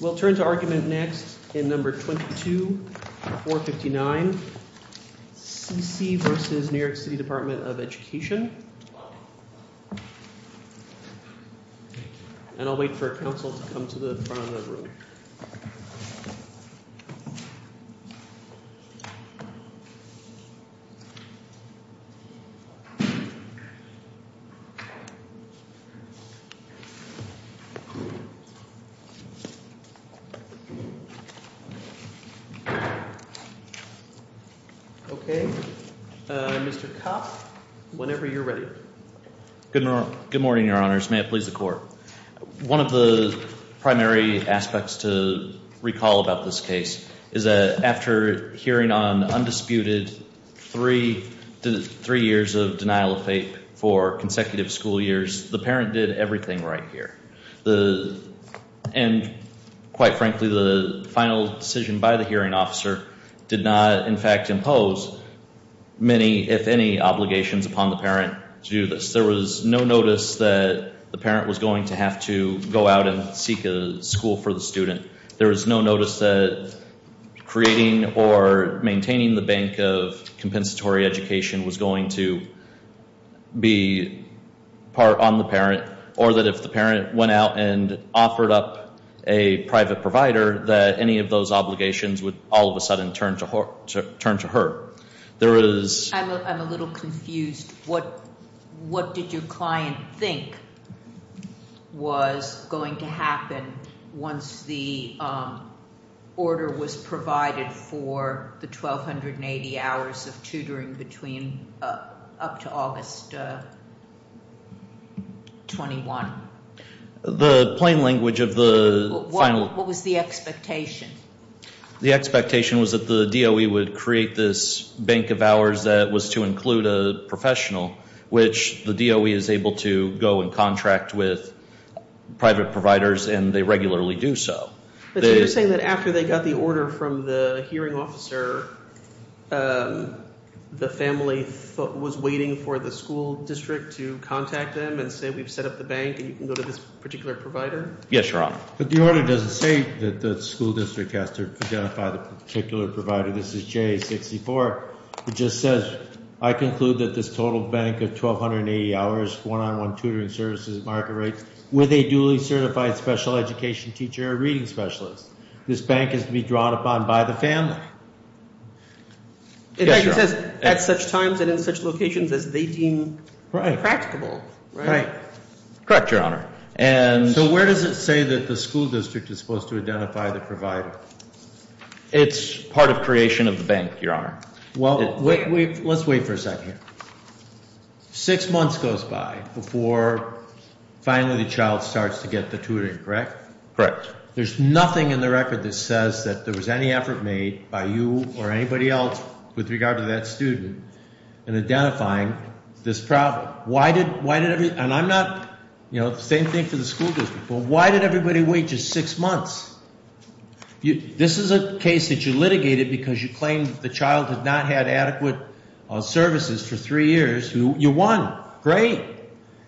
We'll turn to argument next in number 22 4 59. C. C. v. New York City Department of Education. And I'll wait for council to come to the front of the room. Okay. Mr. Kopp, whenever you're ready. Good morning, Your Honors. May it please the court. One of the primary aspects to recall about this case is that after hearing on undisputed three years of denial of fate for consecutive school years, the parent did everything right here. And quite frankly, the final decision by the hearing officer did not, in fact, impose many, if any, obligations upon the parent to do this. There was no notice that the parent was going to have to go out and seek a school for the student. There was no notice that creating or maintaining the bank of compensatory education was going to be part on the parent. Or that if the parent went out and offered up a private provider, that any of those obligations would all of a sudden turn to her. I'm a little confused. What did your client think was going to happen once the order was provided for the 1280 hours of tutoring between up to August 21? The plain language of the final. What was the expectation? The expectation was that the DOE would create this bank of hours that was to include a professional, which the DOE is able to go and contract with private providers and they regularly do so. But you're saying that after they got the order from the hearing officer, the family was waiting for the school district to contact them and say we've set up the bank and you can go to this particular provider? Yes, Your Honor. But the order doesn't say that the school district has to identify the particular provider. This is JA-64. It just says, I conclude that this total bank of 1280 hours, one-on-one tutoring services at market rates with a duly certified special education teacher or reading specialist. This bank is to be drawn upon by the family. It says at such times and in such locations as they deem practicable. Right. Correct, Your Honor. So where does it say that the school district is supposed to identify the provider? It's part of creation of the bank, Your Honor. Well, let's wait for a second here. Six months goes by before finally the child starts to get the tutoring, correct? Correct. There's nothing in the record that says that there was any effort made by you or anybody else with regard to that student in identifying this problem. And I'm not, you know, same thing for the school district. Why did everybody wait just six months? This is a case that you litigated because you claimed the child had not had adequate services for three years. You won. Great.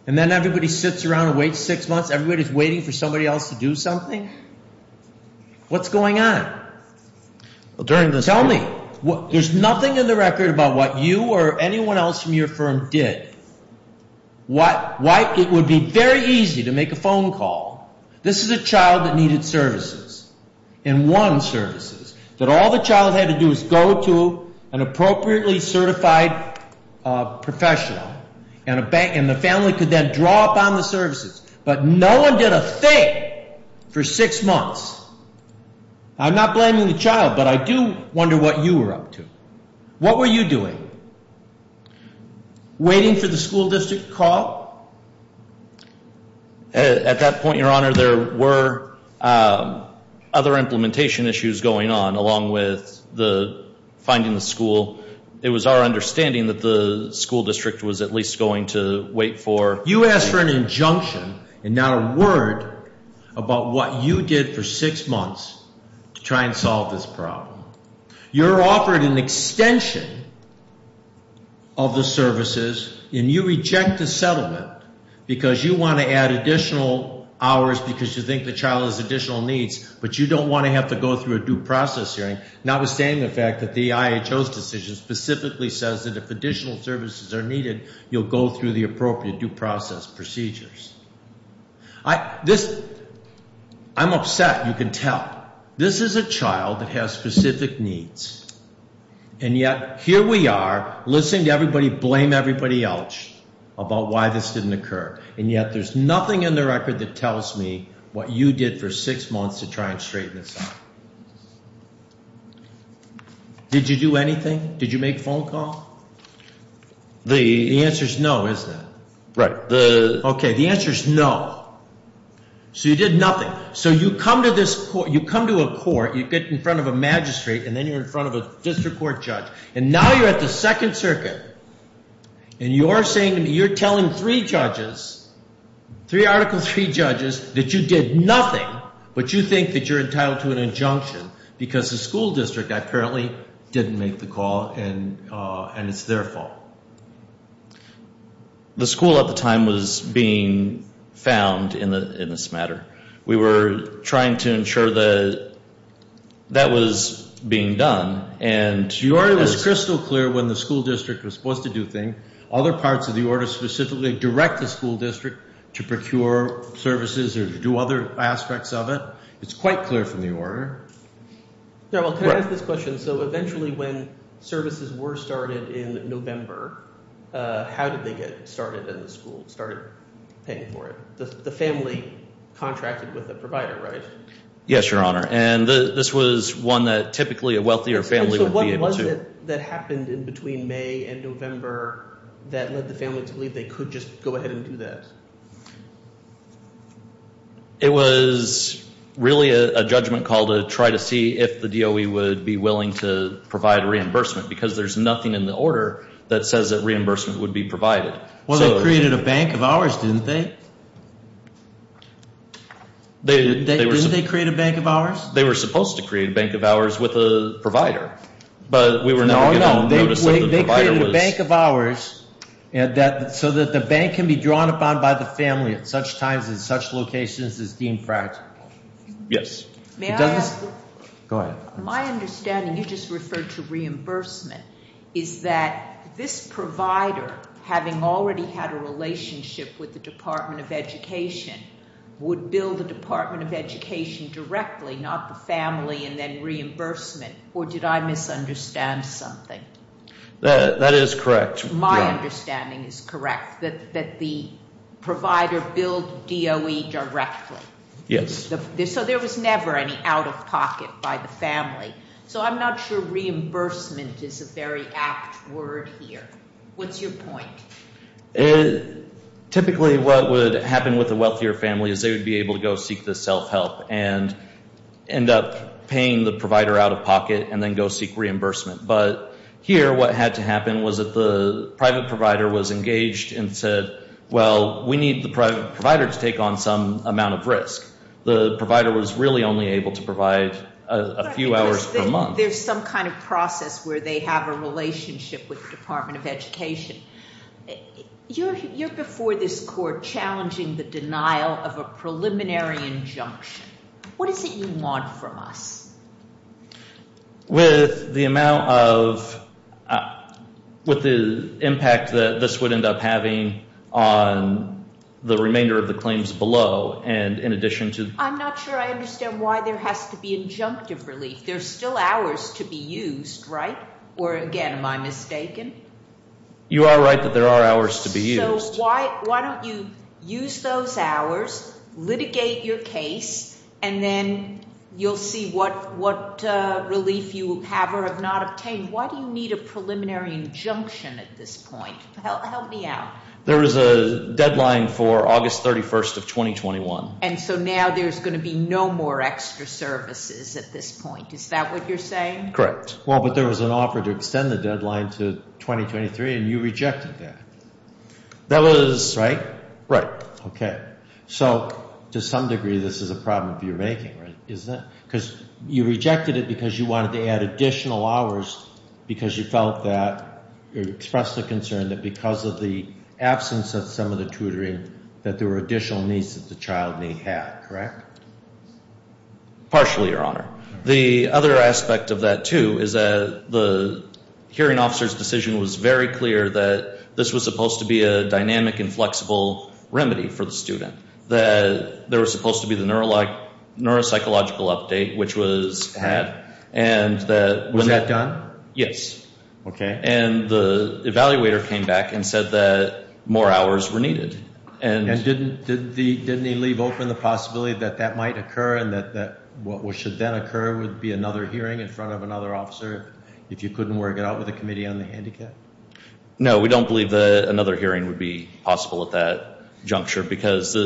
And then everybody sits around and waits six months. Everybody's waiting for somebody else to do something? What's going on? Tell me. There's nothing in the record about what you or anyone else from your firm did. Why it would be very easy to make a phone call. This is a child that needed services and won services. That all the child had to do was go to an appropriately certified professional. And the family could then draw upon the services. But no one did a thing for six months. I'm not blaming the child, but I do wonder what you were up to. What were you doing? Waiting for the school district call? At that point, Your Honor, there were other implementation issues going on along with the finding the school. It was our understanding that the school district was at least going to wait for. You asked for an injunction and not a word about what you did for six months to try and solve this problem. You're offered an extension of the services, and you reject the settlement because you want to add additional hours because you think the child has additional needs, but you don't want to have to go through a due process hearing, notwithstanding the fact that the IHO's decision specifically says that if additional services are needed, you'll go through the appropriate due process procedures. I'm upset. You can tell. This is a child that has specific needs, and yet here we are listening to everybody blame everybody else about why this didn't occur. And yet there's nothing in the record that tells me what you did for six months to try and straighten this out. Did you do anything? Did you make a phone call? The answer is no, isn't it? Right. Okay, the answer is no. So you did nothing. So you come to a court, you get in front of a magistrate, and then you're in front of a district court judge. And now you're at the Second Circuit, and you're telling three judges, three articles, three judges, that you did nothing, but you think that you're entitled to an injunction because the school district apparently didn't make the call and it's their fault. The school at the time was being found in this matter. We were trying to ensure that that was being done. Your order was crystal clear when the school district was supposed to do things. Other parts of the order specifically direct the school district to procure services or to do other aspects of it. It's quite clear from the order. Yeah, well, can I ask this question? So eventually when services were started in November, how did they get started in the school, started paying for it? The family contracted with the provider, right? Yes, Your Honor, and this was one that typically a wealthier family would be able to. So what was it that happened in between May and November that led the family to believe they could just go ahead and do that? It was really a judgment call to try to see if the DOE would be willing to provide reimbursement because there's nothing in the order that says that reimbursement would be provided. Well, they created a bank of hours, didn't they? Didn't they create a bank of hours? They were supposed to create a bank of hours with a provider, but we were not given notice that the provider was. So that the bank can be drawn upon by the family at such times in such locations as deemed practical. Yes. May I ask? Go ahead. My understanding, you just referred to reimbursement, is that this provider, having already had a relationship with the Department of Education, would bill the Department of Education directly, not the family and then reimbursement, or did I misunderstand something? That is correct. My understanding is correct, that the provider billed DOE directly. Yes. So there was never any out-of-pocket by the family. So I'm not sure reimbursement is a very apt word here. What's your point? Typically what would happen with a wealthier family is they would be able to go seek the self-help and end up paying the provider out-of-pocket and then go seek reimbursement. But here what had to happen was that the private provider was engaged and said, well, we need the private provider to take on some amount of risk. The provider was really only able to provide a few hours per month. There's some kind of process where they have a relationship with the Department of Education. You're before this Court challenging the denial of a preliminary injunction. What is it you want from us? With the amount of the impact that this would end up having on the remainder of the claims below and in addition to... I'm not sure I understand why there has to be injunctive relief. There's still hours to be used, right? Or, again, am I mistaken? You are right that there are hours to be used. So why don't you use those hours, litigate your case, and then you'll see what relief you have or have not obtained. Why do you need a preliminary injunction at this point? Help me out. There is a deadline for August 31st of 2021. And so now there's going to be no more extra services at this point. Is that what you're saying? Correct. Well, but there was an offer to extend the deadline to 2023, and you rejected that. That was... Right? Right. Okay. So, to some degree, this is a problem of your making, right? Because you rejected it because you wanted to add additional hours because you felt that... You expressed the concern that because of the absence of some of the tutoring, that there were additional needs that the child may have, correct? Partially, Your Honor. The other aspect of that, too, is that the hearing officer's decision was very clear that this was supposed to be a dynamic and flexible remedy for the student. That there was supposed to be the neuropsychological update, which was had, and that... Was that done? Yes. Okay. And the evaluator came back and said that more hours were needed. And didn't he leave open the possibility that that might occur and that what should then occur would be another hearing in front of another officer, if you couldn't work it out with the Committee on the Handicap? No, we don't believe that another hearing would be possible at that juncture because,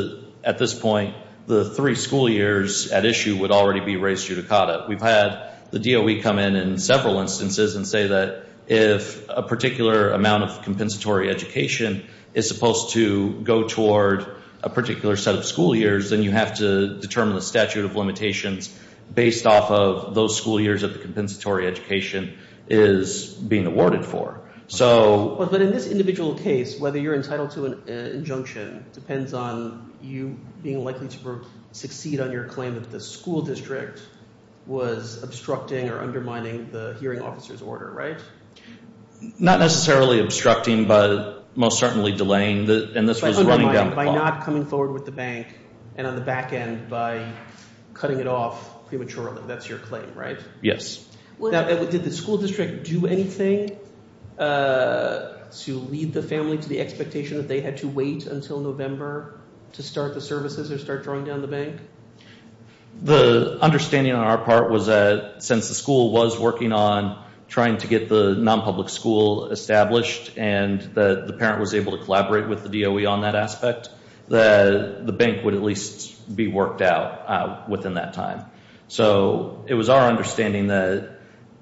at this point, the three school years at issue would already be raised judicata. We've had the DOE come in in several instances and say that if a particular amount of compensatory education is supposed to go toward a particular set of school years, then you have to determine the statute of limitations based off of those school years that the compensatory education is being awarded for. But in this individual case, whether you're entitled to an injunction depends on you being likely to succeed on your claim that the school district was obstructing or undermining the hearing officer's order, right? Not necessarily obstructing, but most certainly delaying. By not coming forward with the bank and on the back end by cutting it off prematurely. That's your claim, right? Yes. Now, did the school district do anything to lead the family to the expectation that they had to wait until November to start the services or start drawing down the bank? The understanding on our part was that since the school was working on trying to get the nonpublic school established and the parent was able to collaborate with the DOE on that aspect, the bank would at least be worked out within that time. So it was our understanding that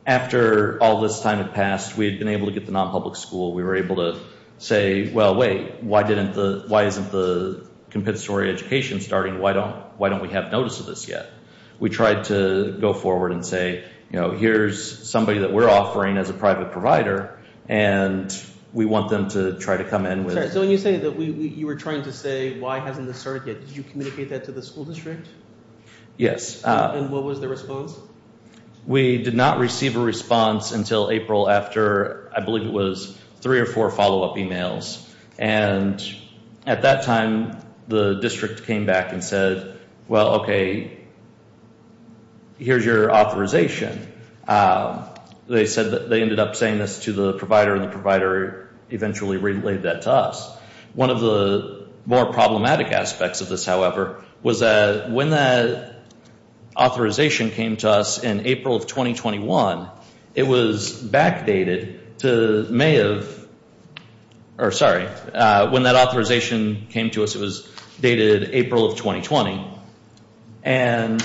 after all this time had passed, we had been able to get the nonpublic school. We were able to say, well, wait, why isn't the compensatory education starting? Why don't we have notice of this yet? We tried to go forward and say, here's somebody that we're offering as a private provider, and we want them to try to come in with- So when you say that you were trying to say, why hasn't this started yet, did you communicate that to the school district? Yes. And what was the response? We did not receive a response until April after, I believe it was, three or four follow-up emails. And at that time, the district came back and said, well, okay, here's your authorization. They ended up saying this to the provider, and the provider eventually relayed that to us. One of the more problematic aspects of this, however, was that when that authorization came to us in April of 2021, it was backdated to May of- or sorry, when that authorization came to us, it was dated April of 2020. And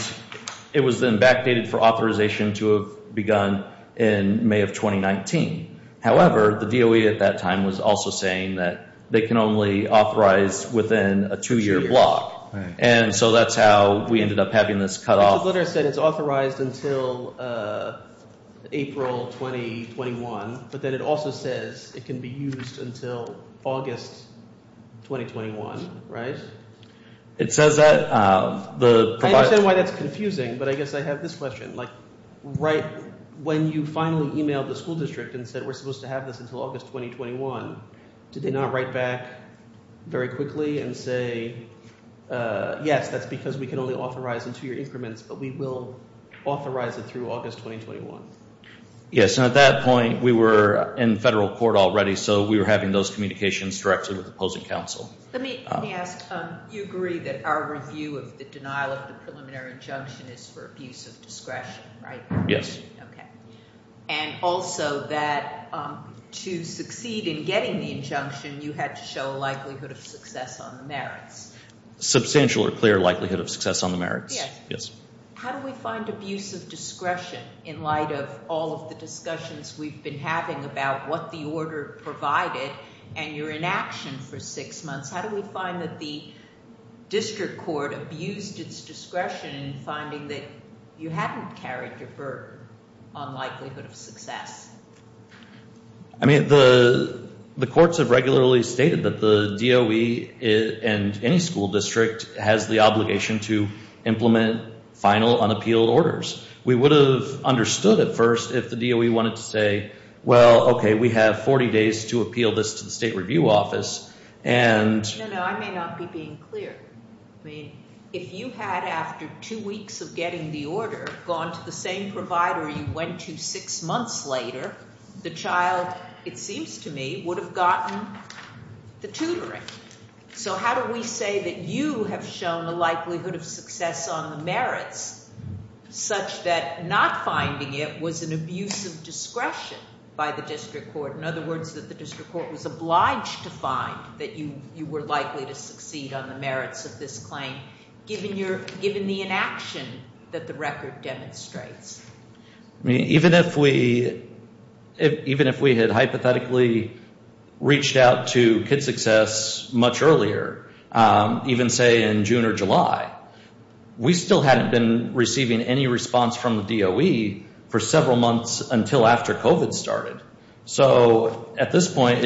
it was then backdated for authorization to have begun in May of 2019. However, the DOE at that time was also saying that they can only authorize within a two-year block. And so that's how we ended up having this cut off. The letter said it's authorized until April 2021, but then it also says it can be used until August 2021, right? It says that. I understand why that's confusing, but I guess I have this question. When you finally emailed the school district and said we're supposed to have this until August 2021, did they not write back very quickly and say, yes, that's because we can only authorize in two-year increments, but we will authorize it through August 2021? Yes, and at that point, we were in federal court already, so we were having those communications directly with opposing counsel. Let me ask, you agree that our review of the denial of the preliminary injunction is for abuse of discretion, right? Yes. Okay. And also that to succeed in getting the injunction, you had to show a likelihood of success on the merits. Substantial or clear likelihood of success on the merits. Yes. Yes. How do we find abuse of discretion in light of all of the discussions we've been having about what the order provided and you're in action for six months? How do we find that the district court abused its discretion in finding that you hadn't carried your burden on likelihood of success? I mean, the courts have regularly stated that the DOE and any school district has the obligation to implement final unappealed orders. We would have understood at first if the DOE wanted to say, well, okay, we have 40 days to appeal this to the state review office. No, no, I may not be being clear. I mean, if you had, after two weeks of getting the order, gone to the same provider you went to six months later, the child, it seems to me, would have gotten the tutoring. So how do we say that you have shown a likelihood of success on the merits such that not finding it was an abuse of discretion by the district court? In other words, that the district court was obliged to find that you were likely to succeed on the merits of this claim, given the inaction that the record demonstrates? I mean, even if we had hypothetically reached out to Kid Success much earlier, even say in June or July, we still hadn't been receiving any response from the DOE for several months until after COVID started. So at this point,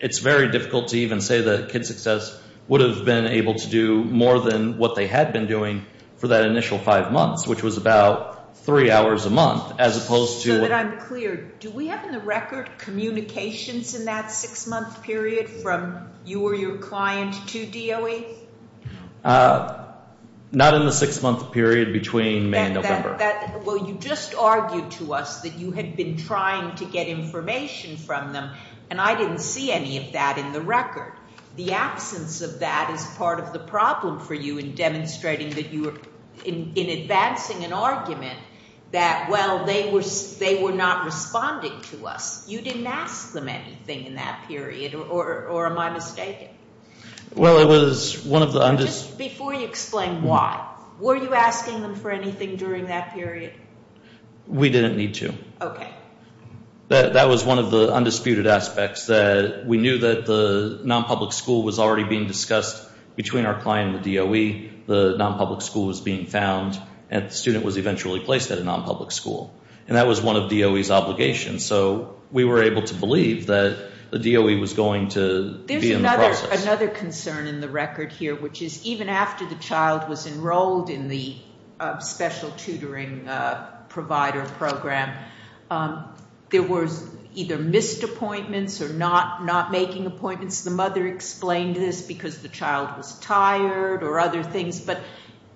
it's very difficult to even say that Kid Success would have been able to do more than what they had been doing for that initial five months, which was about three hours a month, as opposed to- So that I'm clear, do we have in the record communications in that six-month period from you or your client to DOE? Not in the six-month period between May and November. Well, you just argued to us that you had been trying to get information from them, and I didn't see any of that in the record. The absence of that is part of the problem for you in demonstrating that you were, in advancing an argument, that, well, they were not responding to us. You didn't ask them anything in that period, or am I mistaken? Well, it was one of the- Just before you explain why, were you asking them for anything during that period? We didn't need to. Okay. That was one of the undisputed aspects, that we knew that the nonpublic school was already being discussed between our client and the DOE. The nonpublic school was being found, and the student was eventually placed at a nonpublic school. And that was one of DOE's obligations. So we were able to believe that the DOE was going to be in the process. There's another concern in the record here, which is even after the child was enrolled in the special tutoring provider program, there was either missed appointments or not making appointments. The mother explained this because the child was tired or other things. But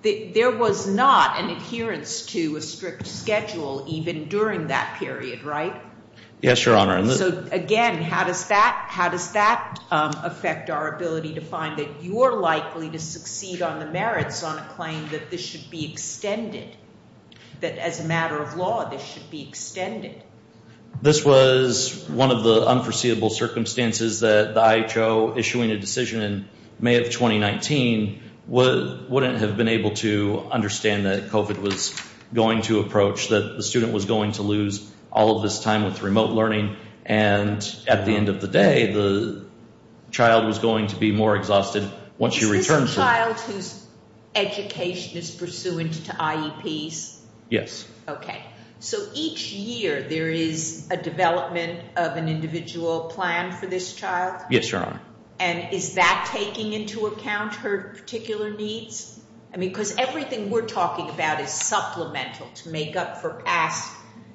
there was not an adherence to a strict schedule even during that period, right? Yes, Your Honor. So, again, how does that affect our ability to find that you are likely to succeed on the merits on a claim that this should be extended, that as a matter of law, this should be extended? This was one of the unforeseeable circumstances that the IHO issuing a decision in May of 2019 wouldn't have been able to understand that COVID was going to approach, that the student was going to lose all of this time with remote learning. And at the end of the day, the child was going to be more exhausted once she returned. Is this a child whose education is pursuant to IEPs? Yes. Okay. So each year there is a development of an individual plan for this child? Yes, Your Honor. And is that taking into account her particular needs? I mean, because everything we're talking about is supplemental to make up for past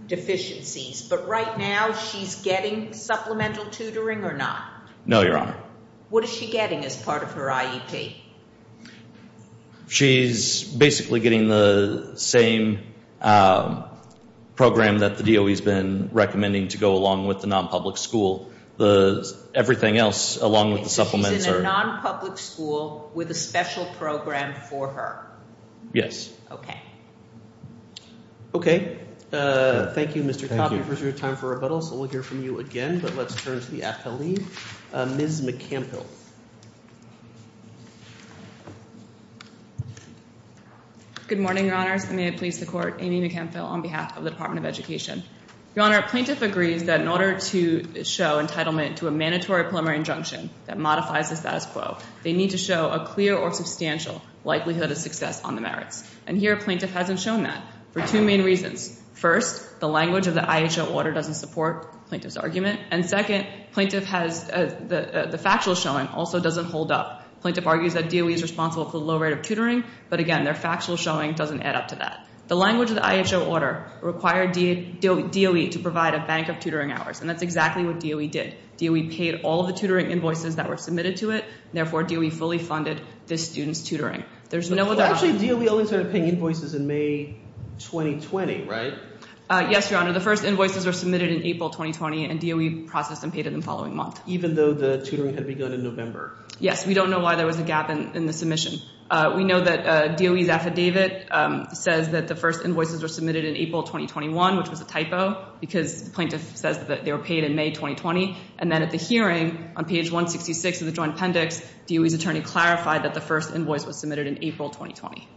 deficiencies. But right now she's getting supplemental tutoring or not? No, Your Honor. What is she getting as part of her IEP? She's basically getting the same program that the DOE has been recommending to go along with the nonpublic school. Everything else along with the supplements. She's in a nonpublic school with a special program for her? Yes. Okay. Okay. Thank you, Mr. Coffey. This is your time for rebuttal, so we'll hear from you again. But let's turn to the appellee, Ms. McCampbell. Good morning, Your Honors. May I please support Amy McCampbell on behalf of the Department of Education. Your Honor, a plaintiff agrees that in order to show entitlement to a mandatory preliminary injunction that modifies the status quo, they need to show a clear or substantial likelihood of success on the merits. And here a plaintiff hasn't shown that for two main reasons. First, the language of the IHO order doesn't support the plaintiff's argument. And second, the factual showing also doesn't hold up. The plaintiff argues that DOE is responsible for the low rate of tutoring, but again, their factual showing doesn't add up to that. The language of the IHO order required DOE to provide a bank of tutoring hours, and that's exactly what DOE did. DOE paid all the tutoring invoices that were submitted to it. Therefore, DOE fully funded this student's tutoring. There's no doubt. Actually, DOE only started paying invoices in May 2020, right? Yes, Your Honor. The first invoices were submitted in April 2020, and DOE processed and paid them the following month. Even though the tutoring had begun in November. Yes. We don't know why there was a gap in the submission. We know that DOE's affidavit says that the first invoices were submitted in April 2021, which was a typo because the plaintiff says that they were paid in May 2020. And then at the hearing on page 166 of the joint appendix, DOE's attorney clarified that the first invoice was submitted in April 2020.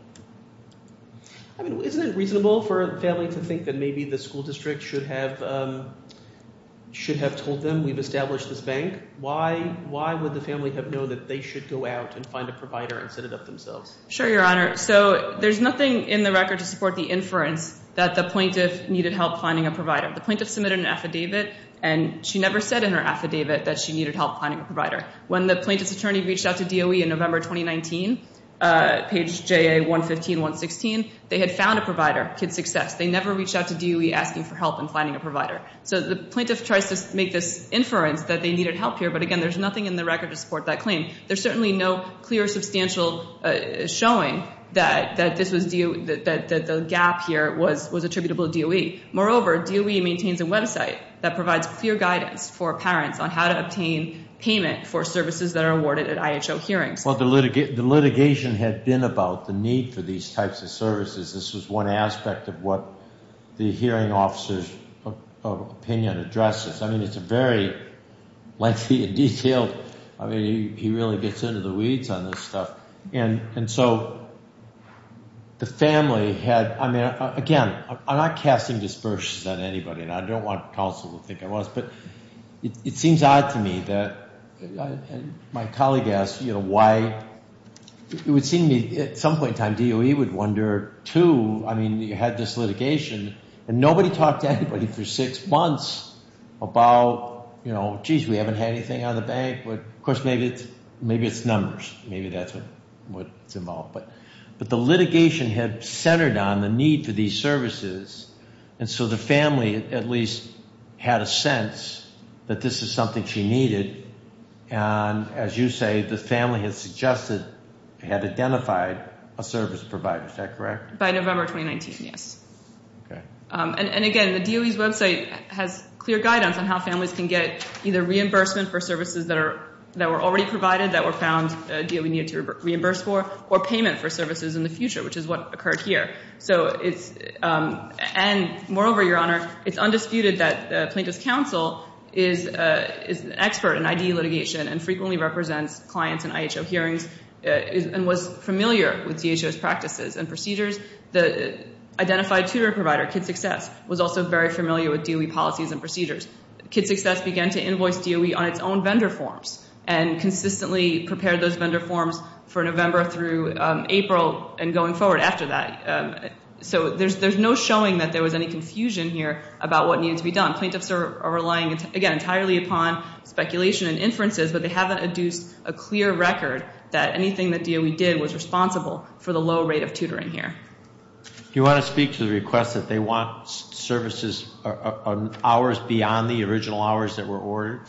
Isn't it reasonable for a family to think that maybe the school district should have told them we've established this bank? Why would the family have known that they should go out and find a provider and set it up themselves? Sure, Your Honor. So there's nothing in the record to support the inference that the plaintiff needed help finding a provider. The plaintiff submitted an affidavit, and she never said in her affidavit that she needed help finding a provider. When the plaintiff's attorney reached out to DOE in November 2019, page JA 115, 116, they had found a provider, Kid Success. They never reached out to DOE asking for help in finding a provider. So the plaintiff tries to make this inference that they needed help here, but again, there's nothing in the record to support that claim. There's certainly no clear substantial showing that the gap here was attributable to DOE. Moreover, DOE maintains a website that provides clear guidance for parents on how to obtain payment for services that are awarded at IHO hearings. Well, the litigation had been about the need for these types of services. This was one aspect of what the hearing officer's opinion addresses. I mean, it's a very lengthy and detailed – I mean, he really gets into the weeds on this stuff. And so the family had – I mean, again, I'm not casting dispersions on anybody, and I don't want counsel to think I was, but it seems odd to me that – and my colleague asked, you know, why – it would seem to me at some point in time DOE would wonder, too. I mean, you had this litigation, and nobody talked to anybody for six months about, you know, geez, we haven't had anything out of the bank. Of course, maybe it's numbers. Maybe that's what's involved. But the litigation had centered on the need for these services, and so the family at least had a sense that this is something she needed. And as you say, the family had suggested – had identified a service provider. Is that correct? By November 2019, yes. Okay. And again, the DOE's website has clear guidance on how families can get either reimbursement for services that were already provided, that were found DOE needed to reimburse for, or payment for services in the future, which is what occurred here. So it's – and moreover, Your Honor, it's undisputed that plaintiff's counsel is an expert in IDE litigation and frequently represents clients in IHO hearings and was familiar with DHO's practices and procedures. The identified tutor provider, Kid Success, was also very familiar with DOE policies and procedures. Kid Success began to invoice DOE on its own vendor forms and consistently prepared those vendor forms for November through April and going forward after that. So there's no showing that there was any confusion here about what needed to be done. Plaintiffs are relying, again, entirely upon speculation and inferences, but they haven't adduced a clear record that anything that DOE did was responsible for the low rate of tutoring here. Do you want to speak to the request that they want services – hours beyond the original hours that were ordered?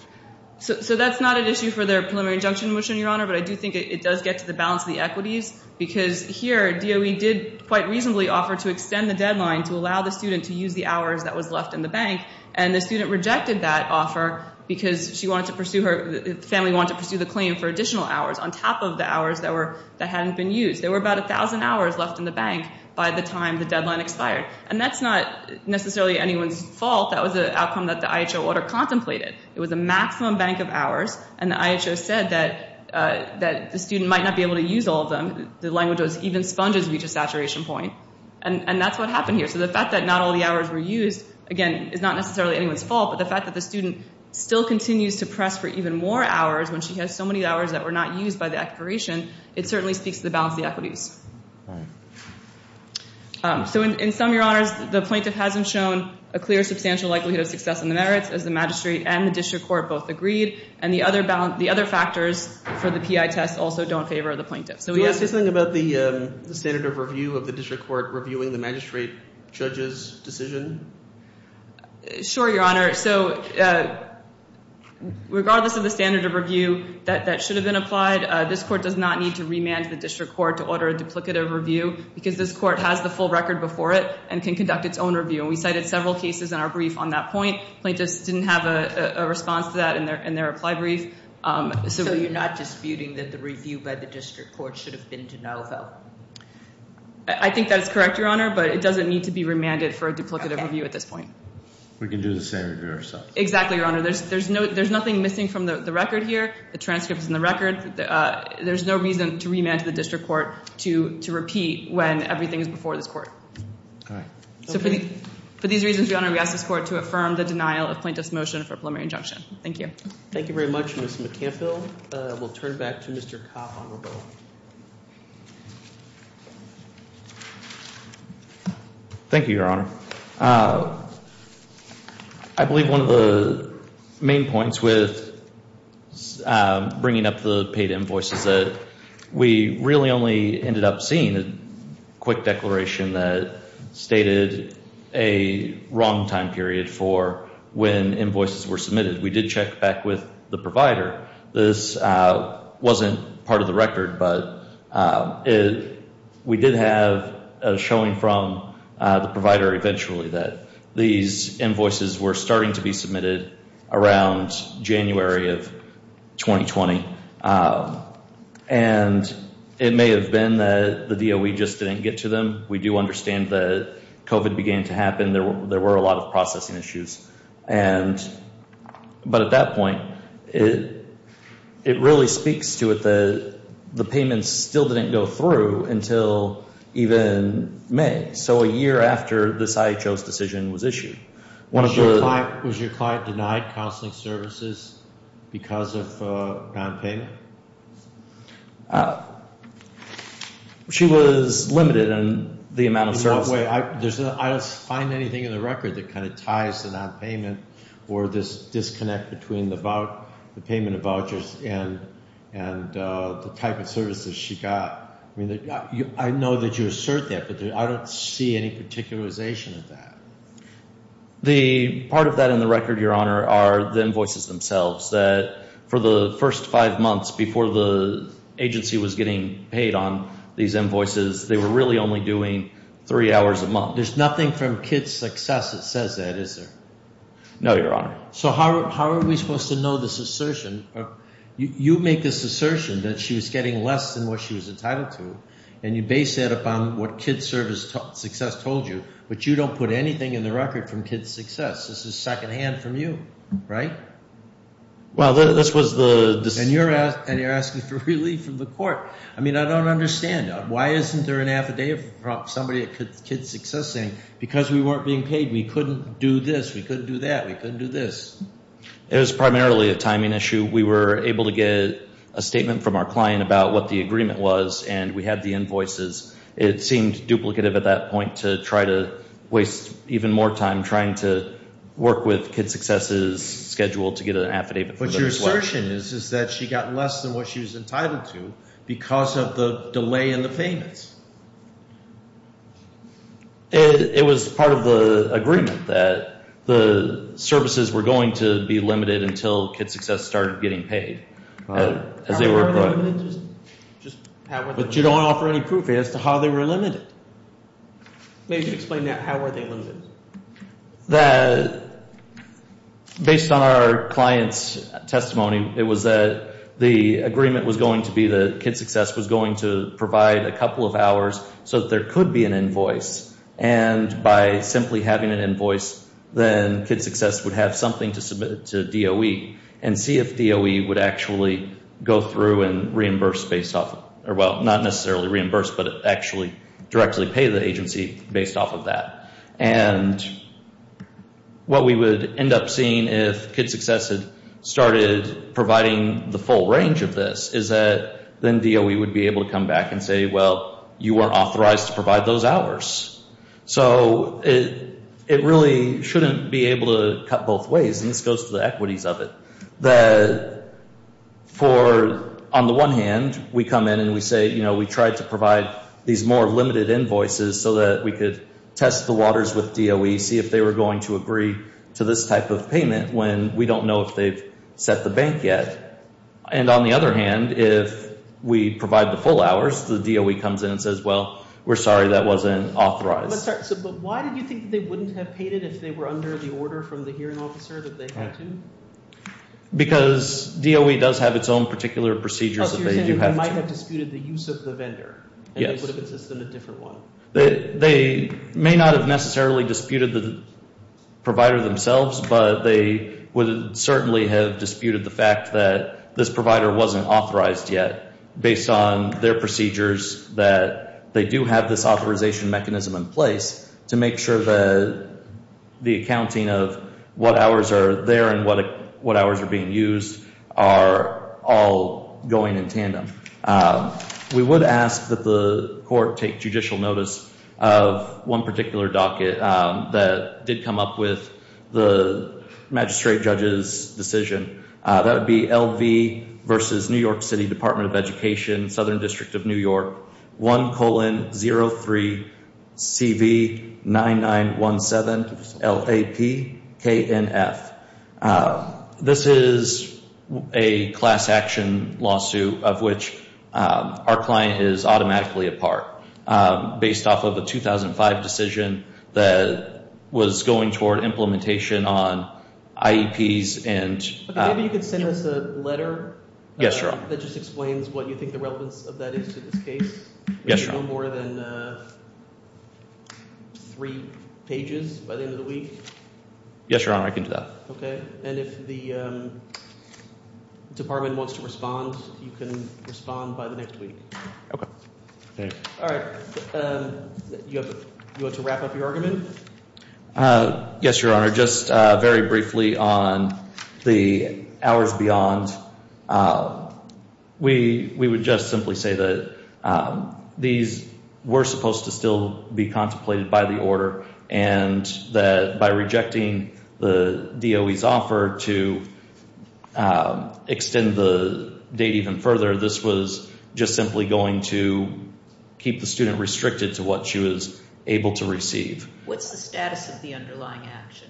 So that's not an issue for their preliminary injunction motion, Your Honor, but I do think it does get to the balance of the equities because here DOE did quite reasonably offer to extend the deadline to allow the student to use the hours that was left in the bank, and the student rejected that offer because she wanted to pursue her – the family wanted to pursue the claim for additional hours on top of the hours that were – that hadn't been used. There were about 1,000 hours left in the bank by the time the deadline expired, and that's not necessarily anyone's fault. That was an outcome that the IHO order contemplated. It was a maximum bank of hours, and the IHO said that the student might not be able to use all of them. The language was even sponges reach a saturation point, and that's what happened here. So the fact that not all the hours were used, again, is not necessarily anyone's fault, but the fact that the student still continues to press for even more hours when she has so many hours that were not used by the expiration, it certainly speaks to the balance of the equities. All right. So in sum, Your Honors, the plaintiff hasn't shown a clear substantial likelihood of success in the merits, as the magistrate and the district court both agreed, and the other factors for the PI test also don't favor the plaintiff. Can you say something about the standard of review of the district court reviewing the magistrate judge's decision? Sure, Your Honor. So regardless of the standard of review that should have been applied, this court does not need to remand the district court to order a duplicative review because this court has the full record before it and can conduct its own review, and we cited several cases in our brief on that point. Plaintiffs didn't have a response to that in their reply brief. So you're not disputing that the review by the district court should have been de novo? I think that is correct, Your Honor, but it doesn't need to be remanded for a duplicative review at this point. We can do the same review ourselves. Exactly, Your Honor. There's nothing missing from the record here. The transcript is in the record. There's no reason to remand to the district court to repeat when everything is before this court. All right. So for these reasons, Your Honor, we ask this court to affirm the denial of plaintiff's motion for a preliminary injunction. Thank you. Thank you very much, Ms. McCampbell. We'll turn it back to Mr. Kopp on rebuttal. Thank you, Your Honor. I believe one of the main points with bringing up the paid invoices is that we really only ended up seeing a quick declaration that stated a wrong time period for when invoices were submitted. We did check back with the provider. This wasn't part of the record, but we did have a showing from the provider eventually that these invoices were starting to be submitted around January of 2020. And it may have been that the DOE just didn't get to them. We do understand that COVID began to happen. There were a lot of processing issues. But at that point, it really speaks to it that the payments still didn't go through until even May. So a year after this IHO's decision was issued. Was your client denied counseling services because of nonpayment? She was limited in the amount of services. By the way, I don't find anything in the record that kind of ties to nonpayment or this disconnect between the payment of vouchers and the type of services she got. I know that you assert that, but I don't see any particularization of that. The part of that in the record, Your Honor, are the invoices themselves. That for the first five months before the agency was getting paid on these invoices, they were really only doing three hours a month. There's nothing from KIDS Success that says that, is there? No, Your Honor. So how are we supposed to know this assertion? You make this assertion that she was getting less than what she was entitled to, and you base that upon what KIDS Success told you. But you don't put anything in the record from KIDS Success. This is secondhand from you, right? Well, this was the decision. And you're asking for relief from the court. I mean, I don't understand. Why isn't there an affidavit from somebody at KIDS Success saying, because we weren't being paid, we couldn't do this, we couldn't do that, we couldn't do this? It was primarily a timing issue. We were able to get a statement from our client about what the agreement was, and we had the invoices. It seemed duplicative at that point to try to waste even more time trying to work with KIDS Success's schedule to get an affidavit. But your assertion is that she got less than what she was entitled to because of the delay in the payments. It was part of the agreement that the services were going to be limited until KIDS Success started getting paid. How were they limited? But you don't offer any proof as to how they were limited. Maybe you could explain that. How were they limited? Based on our client's testimony, it was that the agreement was going to be that KIDS Success was going to provide a couple of hours so that there could be an invoice. And by simply having an invoice, then KIDS Success would have something to submit to DOE and see if DOE would actually go through and reimburse, well, not necessarily reimburse, but actually directly pay the agency based off of that. And what we would end up seeing if KIDS Success had started providing the full range of this is that then DOE would be able to come back and say, well, you weren't authorized to provide those hours. So it really shouldn't be able to cut both ways, and this goes to the equities of it. On the one hand, we come in and we say, you know, we tried to provide these more limited invoices so that we could test the waters with DOE, see if they were going to agree to this type of payment when we don't know if they've set the bank yet. And on the other hand, if we provide the full hours, the DOE comes in and says, well, we're sorry, that wasn't authorized. But why do you think they wouldn't have paid it if they were under the order from the hearing officer that they had to? Because DOE does have its own particular procedures that they do have to. So you're saying they might have disputed the use of the vendor. Yes. And they would have insisted on a different one. They may not have necessarily disputed the provider themselves, but they would certainly have disputed the fact that this provider wasn't authorized yet based on their procedures, that they do have this authorization mechanism in place to make sure that the accounting of what hours are there and what hours are being used are all going in tandem. We would ask that the court take judicial notice of one particular docket that did come up with the magistrate judge's decision. That would be LV versus New York City Department of Education, Southern District of New York, 1-0-3-CV-9917-LAP-KNF. This is a class action lawsuit of which our client is automatically a part based off of a 2005 decision that was going toward implementation on IEPs. Maybe you could send us a letter. Yes, Your Honor. That just explains what you think the relevance of that is to this case. Yes, Your Honor. No more than three pages by the end of the week. Yes, Your Honor. I can do that. Okay. And if the department wants to respond, you can respond by the next week. Okay. All right. You want to wrap up your argument? Yes, Your Honor. Your Honor, just very briefly on the hours beyond, we would just simply say that these were supposed to still be contemplated by the order. And that by rejecting the DOE's offer to extend the date even further, this was just simply going to keep the student restricted to what she was able to receive. What's the status of the underlying action?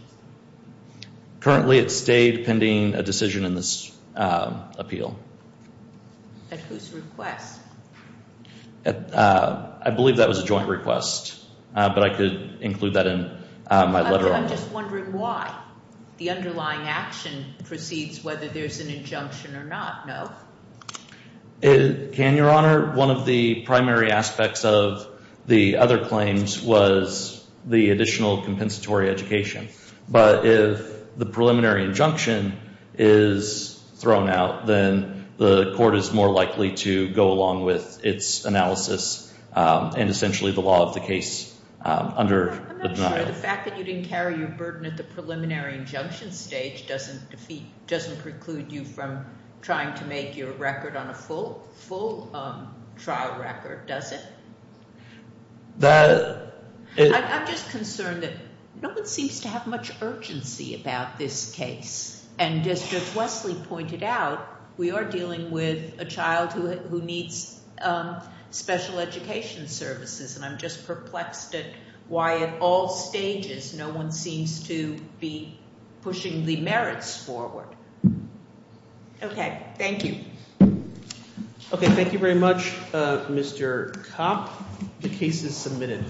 Currently, it stayed pending a decision in this appeal. At whose request? I believe that was a joint request, but I could include that in my letter. I'm just wondering why. The underlying action proceeds whether there's an injunction or not, no? Your Honor, one of the primary aspects of the other claims was the additional compensatory education. But if the preliminary injunction is thrown out, then the court is more likely to go along with its analysis and essentially the law of the case under the denial. Your Honor, the fact that you didn't carry your burden at the preliminary injunction stage doesn't preclude you from trying to make your record on a full trial record, does it? I'm just concerned that no one seems to have much urgency about this case. And as Judge Wesley pointed out, we are dealing with a child who needs special education services. And I'm just perplexed at why at all stages no one seems to be pushing the merits forward. Okay, thank you. Okay, thank you very much, Mr. Kopp. The case is submitted.